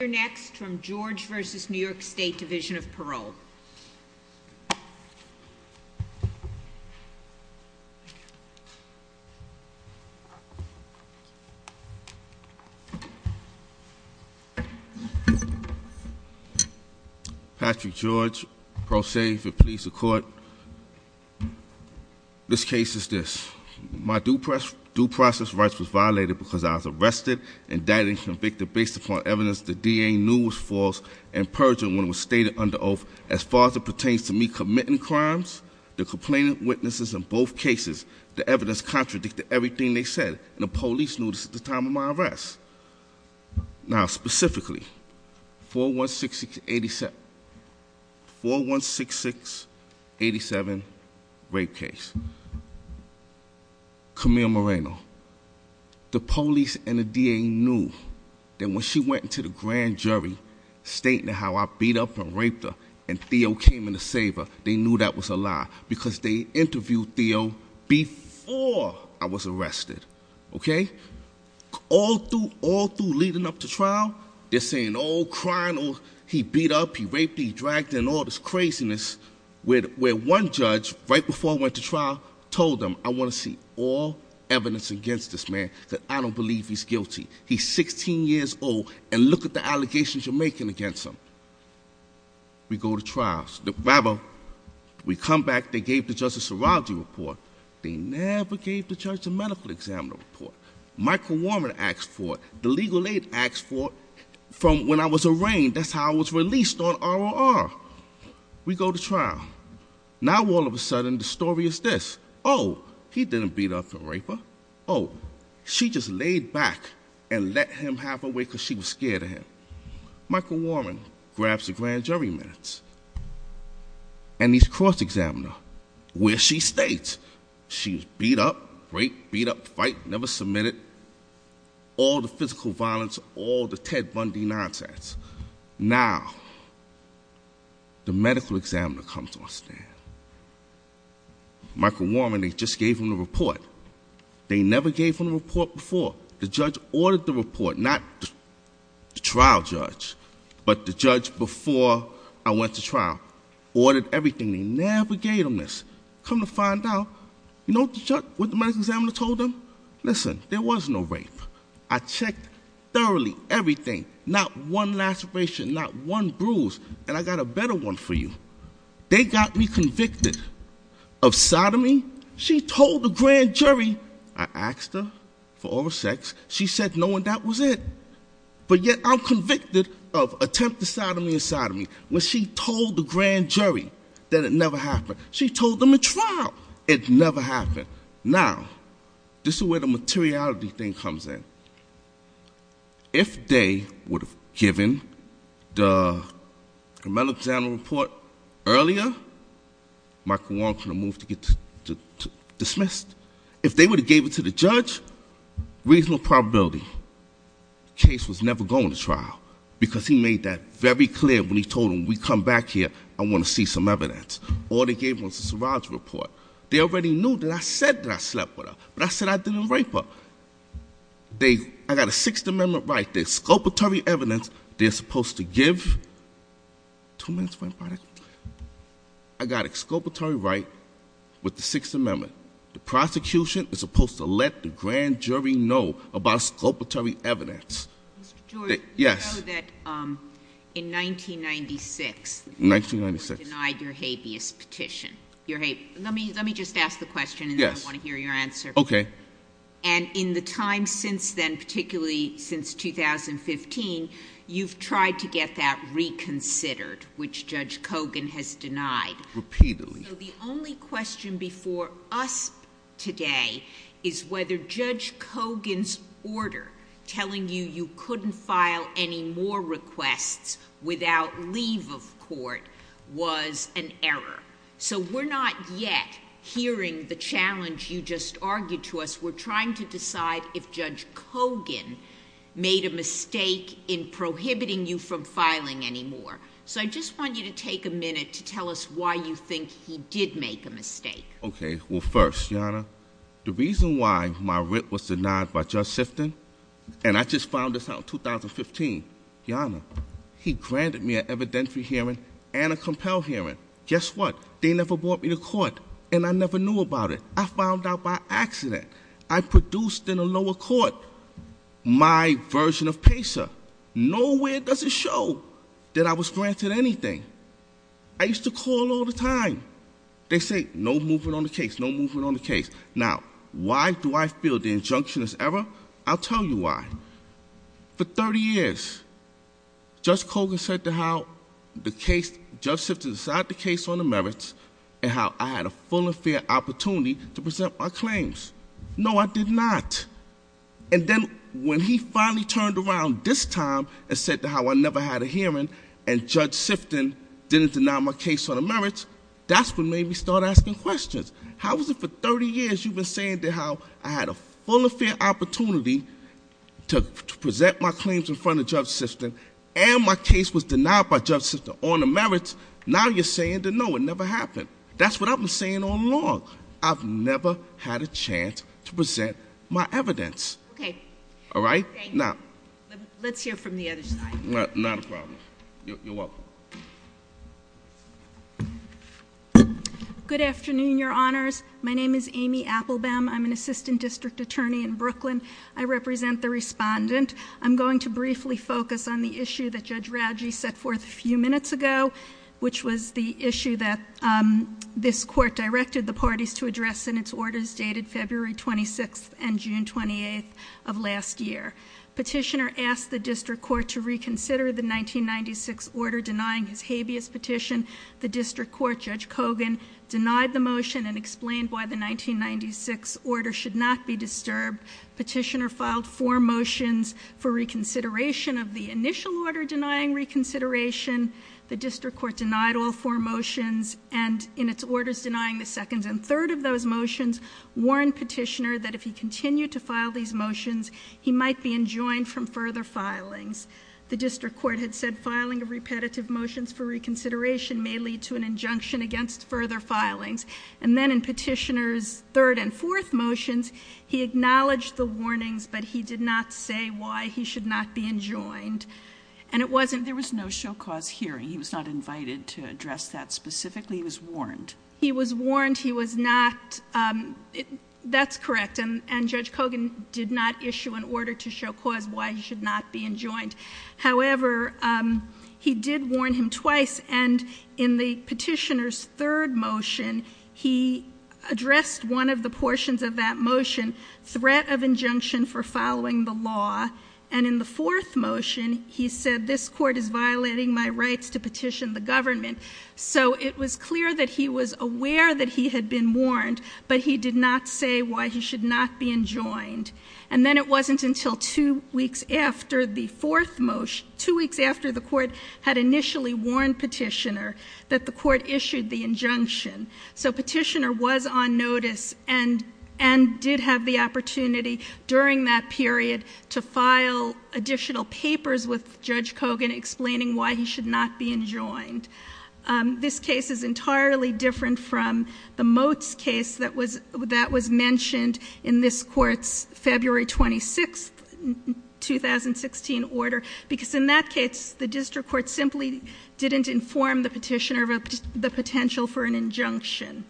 You're next from George v. New York State Division of Parole. Patrick George, Pro Se for Police and Court. This case is this. My due process rights was violated because I was arrested, indicted, and convicted based upon evidence the DA knew was false. And purging when it was stated under oath. As far as it pertains to me committing crimes, the complainant witnesses in both cases, the evidence contradicted everything they said, and the police knew this at the time of my arrest. Now specifically, 416687 rape case. Camille Moreno, the police and the DA knew that when she went to the grand jury, stating how I beat up and raped her, and Theo came in to save her, they knew that was a lie. Because they interviewed Theo before I was arrested, okay? All through leading up to trial, they're saying, oh, crying, oh, he beat up, he raped, he dragged, and all this craziness where one judge, right before I went to trial, told them, I want to see all evidence against this man, that I don't believe he's guilty. He's 16 years old, and look at the allegations you're making against him. We go to trials. Rather, we come back, they gave the judge a serology report. They never gave the judge a medical examiner report. Michael Warren asked for it, the legal aid asked for it, from when I was arraigned, that's how I was released on ROR. We go to trial. Now all of a sudden, the story is this, he didn't beat up the rapist. She just laid back and let him have her way because she was scared of him. Michael Warren grabs the grand jury minutes, and he's cross-examined her, where she states she was beat up, raped, beat up, fight, never submitted, all the physical violence, all the Ted Bundy nonsense. Now, the medical examiner comes on stand. Michael Warren, they just gave him the report. They never gave him the report before. The judge ordered the report, not the trial judge, but the judge before I went to trial, ordered everything, they never gave him this. Come to find out, you know what the medical examiner told them? Listen, there was no rape. I checked thoroughly everything, not one laceration, not one bruise, and I got a better one for you. They got me convicted of sodomy. She told the grand jury, I asked her for all the sex, she said no and that was it. But yet I'm convicted of attempted sodomy and sodomy. When she told the grand jury that it never happened, she told them in trial, it never happened. Now, this is where the materiality thing comes in. If they would have given the medical examiner report earlier, Michael Warren could have moved to get dismissed. If they would have gave it to the judge, reasonable probability the case was never going to trial. Because he made that very clear when he told them, we come back here, I want to see some evidence. All they gave him was a surrogate report. They already knew that I said that I slept with her, but I said I didn't rape her. I got a Sixth Amendment right. The exculpatory evidence they're supposed to give, two minutes, one minute. I got exculpatory right with the Sixth Amendment. The prosecution is supposed to let the grand jury know about exculpatory evidence. Yes. In 1996, you denied your habeas petition. Let me just ask the question and then I want to hear your answer. Okay. And in the time since then, particularly since 2015, you've tried to get that reconsidered, which Judge Kogan has denied. Repeatedly. So the only question before us today is whether Judge Kogan's order telling you you couldn't file any more requests without leave of court was an error. So we're not yet hearing the challenge you just argued to us. We're trying to decide if Judge Kogan made a mistake in prohibiting you from filing anymore. So I just want you to take a minute to tell us why you think he did make a mistake. Okay, well first, Your Honor, the reason why my writ was denied by Judge Sifton, and I just found this out in 2015. Your Honor, he granted me an evidentiary hearing and a compel hearing. Guess what? They never brought me to court, and I never knew about it. I found out by accident. I produced in a lower court my version of PACER. Nowhere does it show that I was granted anything. I used to call all the time. They say, no movement on the case, no movement on the case. Now, why do I feel the injunction is error? I'll tell you why. For 30 years, Judge Kogan said to how the case, Judge Sifton decided the case on the merits and how I had a full and fair opportunity to present my claims. No, I did not. And then when he finally turned around this time and said to how I never had a hearing and Judge Sifton didn't deny my case on the merits, that's what made me start asking questions. How is it for 30 years you've been saying to how I had a full and fair opportunity to present my claims in front of Judge Sifton and my case was denied by Judge Sifton on the merits, now you're saying to no, it never happened. That's what I've been saying all along. I've never had a chance to present my evidence. Okay. All right? Now. Let's hear from the other side. Not a problem. You're welcome. Good afternoon, your honors. My name is Amy Applebaum. I'm an assistant district attorney in Brooklyn. I represent the respondent. I'm going to briefly focus on the issue that Judge Radji set forth a few minutes ago, which was the issue that this court directed the parties to address in its orders dated February 26th and June 28th of last year. Petitioner asked the district court to reconsider the 1996 order denying his habeas petition. The district court, Judge Kogan, denied the motion and explained why the 1996 order should not be disturbed. Petitioner filed four motions for reconsideration of the initial order denying reconsideration. The district court denied all four motions and in its orders denying the second and He might be enjoined from further filings. The district court had said filing of repetitive motions for reconsideration may lead to an injunction against further filings. And then in petitioner's third and fourth motions, he acknowledged the warnings, but he did not say why he should not be enjoined. And it wasn't- There was no show cause hearing, he was not invited to address that specifically, he was warned. He was warned, he was not, that's correct, and Judge Kogan did not issue an order to show cause why he should not be enjoined. However, he did warn him twice, and in the petitioner's third motion, he addressed one of the portions of that motion, threat of injunction for following the law. And in the fourth motion, he said this court is violating my rights to petition the government. So it was clear that he was aware that he had been warned, but he did not say why he should not be enjoined. And then it wasn't until two weeks after the fourth motion, two weeks after the court had initially warned petitioner that the court issued the injunction. So petitioner was on notice and did have the opportunity during that period to file additional papers with Judge Kogan explaining why he should not be enjoined. This case is entirely different from the Motes case that was mentioned in this court's February 26th, 2016 order. Because in that case, the district court simply didn't inform the petitioner of the potential for an injunction.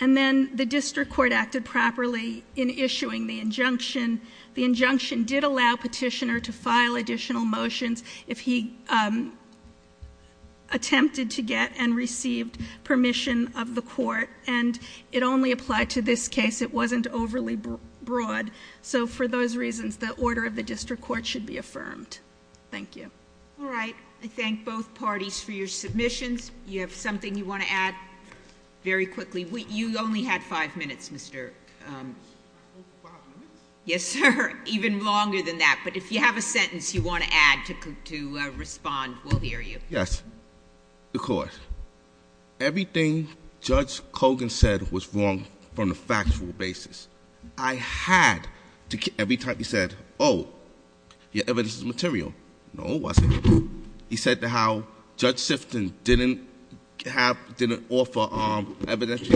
And then the district court acted properly in issuing the injunction. The injunction did allow petitioner to file additional motions if he attempted to get and received permission of the court. And it only applied to this case. It wasn't overly broad. So for those reasons, the order of the district court should be affirmed. Thank you. All right, I thank both parties for your submissions. You have something you want to add? Very quickly, you only had five minutes, Mr. Yes, sir, even longer than that. But if you have a sentence you want to add to respond, we'll hear you. Yes, the court. Everything Judge Kogan said was wrong from a factual basis. I had to, every time he said, your evidence is material. No, it wasn't. He said that how Judge Sifton didn't offer evidence.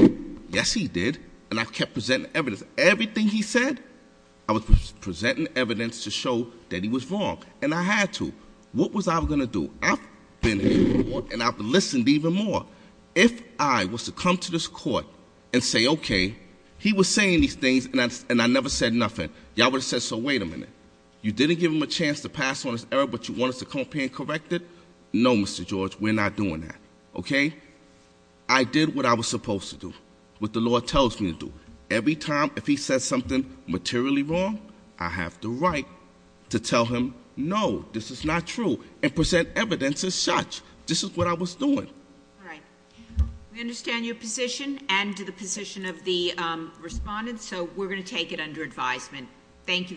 Yes, he did, and I kept presenting evidence. Everything he said, I was presenting evidence to show that he was wrong, and I had to. What was I going to do? I've been in court, and I've listened even more. If I was to come to this court and say, okay, he was saying these things, and I never said nothing. Y'all would have said, so wait a minute, you didn't give him a chance to pass on his error, but you want us to come up here and correct it? No, Mr. George, we're not doing that, okay? I did what I was supposed to do, what the law tells me to do. Every time if he says something materially wrong, I have the right to tell him no, this is not true, and present evidence as such, this is what I was doing. All right, we understand your position and the position of the respondents, so we're going to take it under advisement. Thank you very much.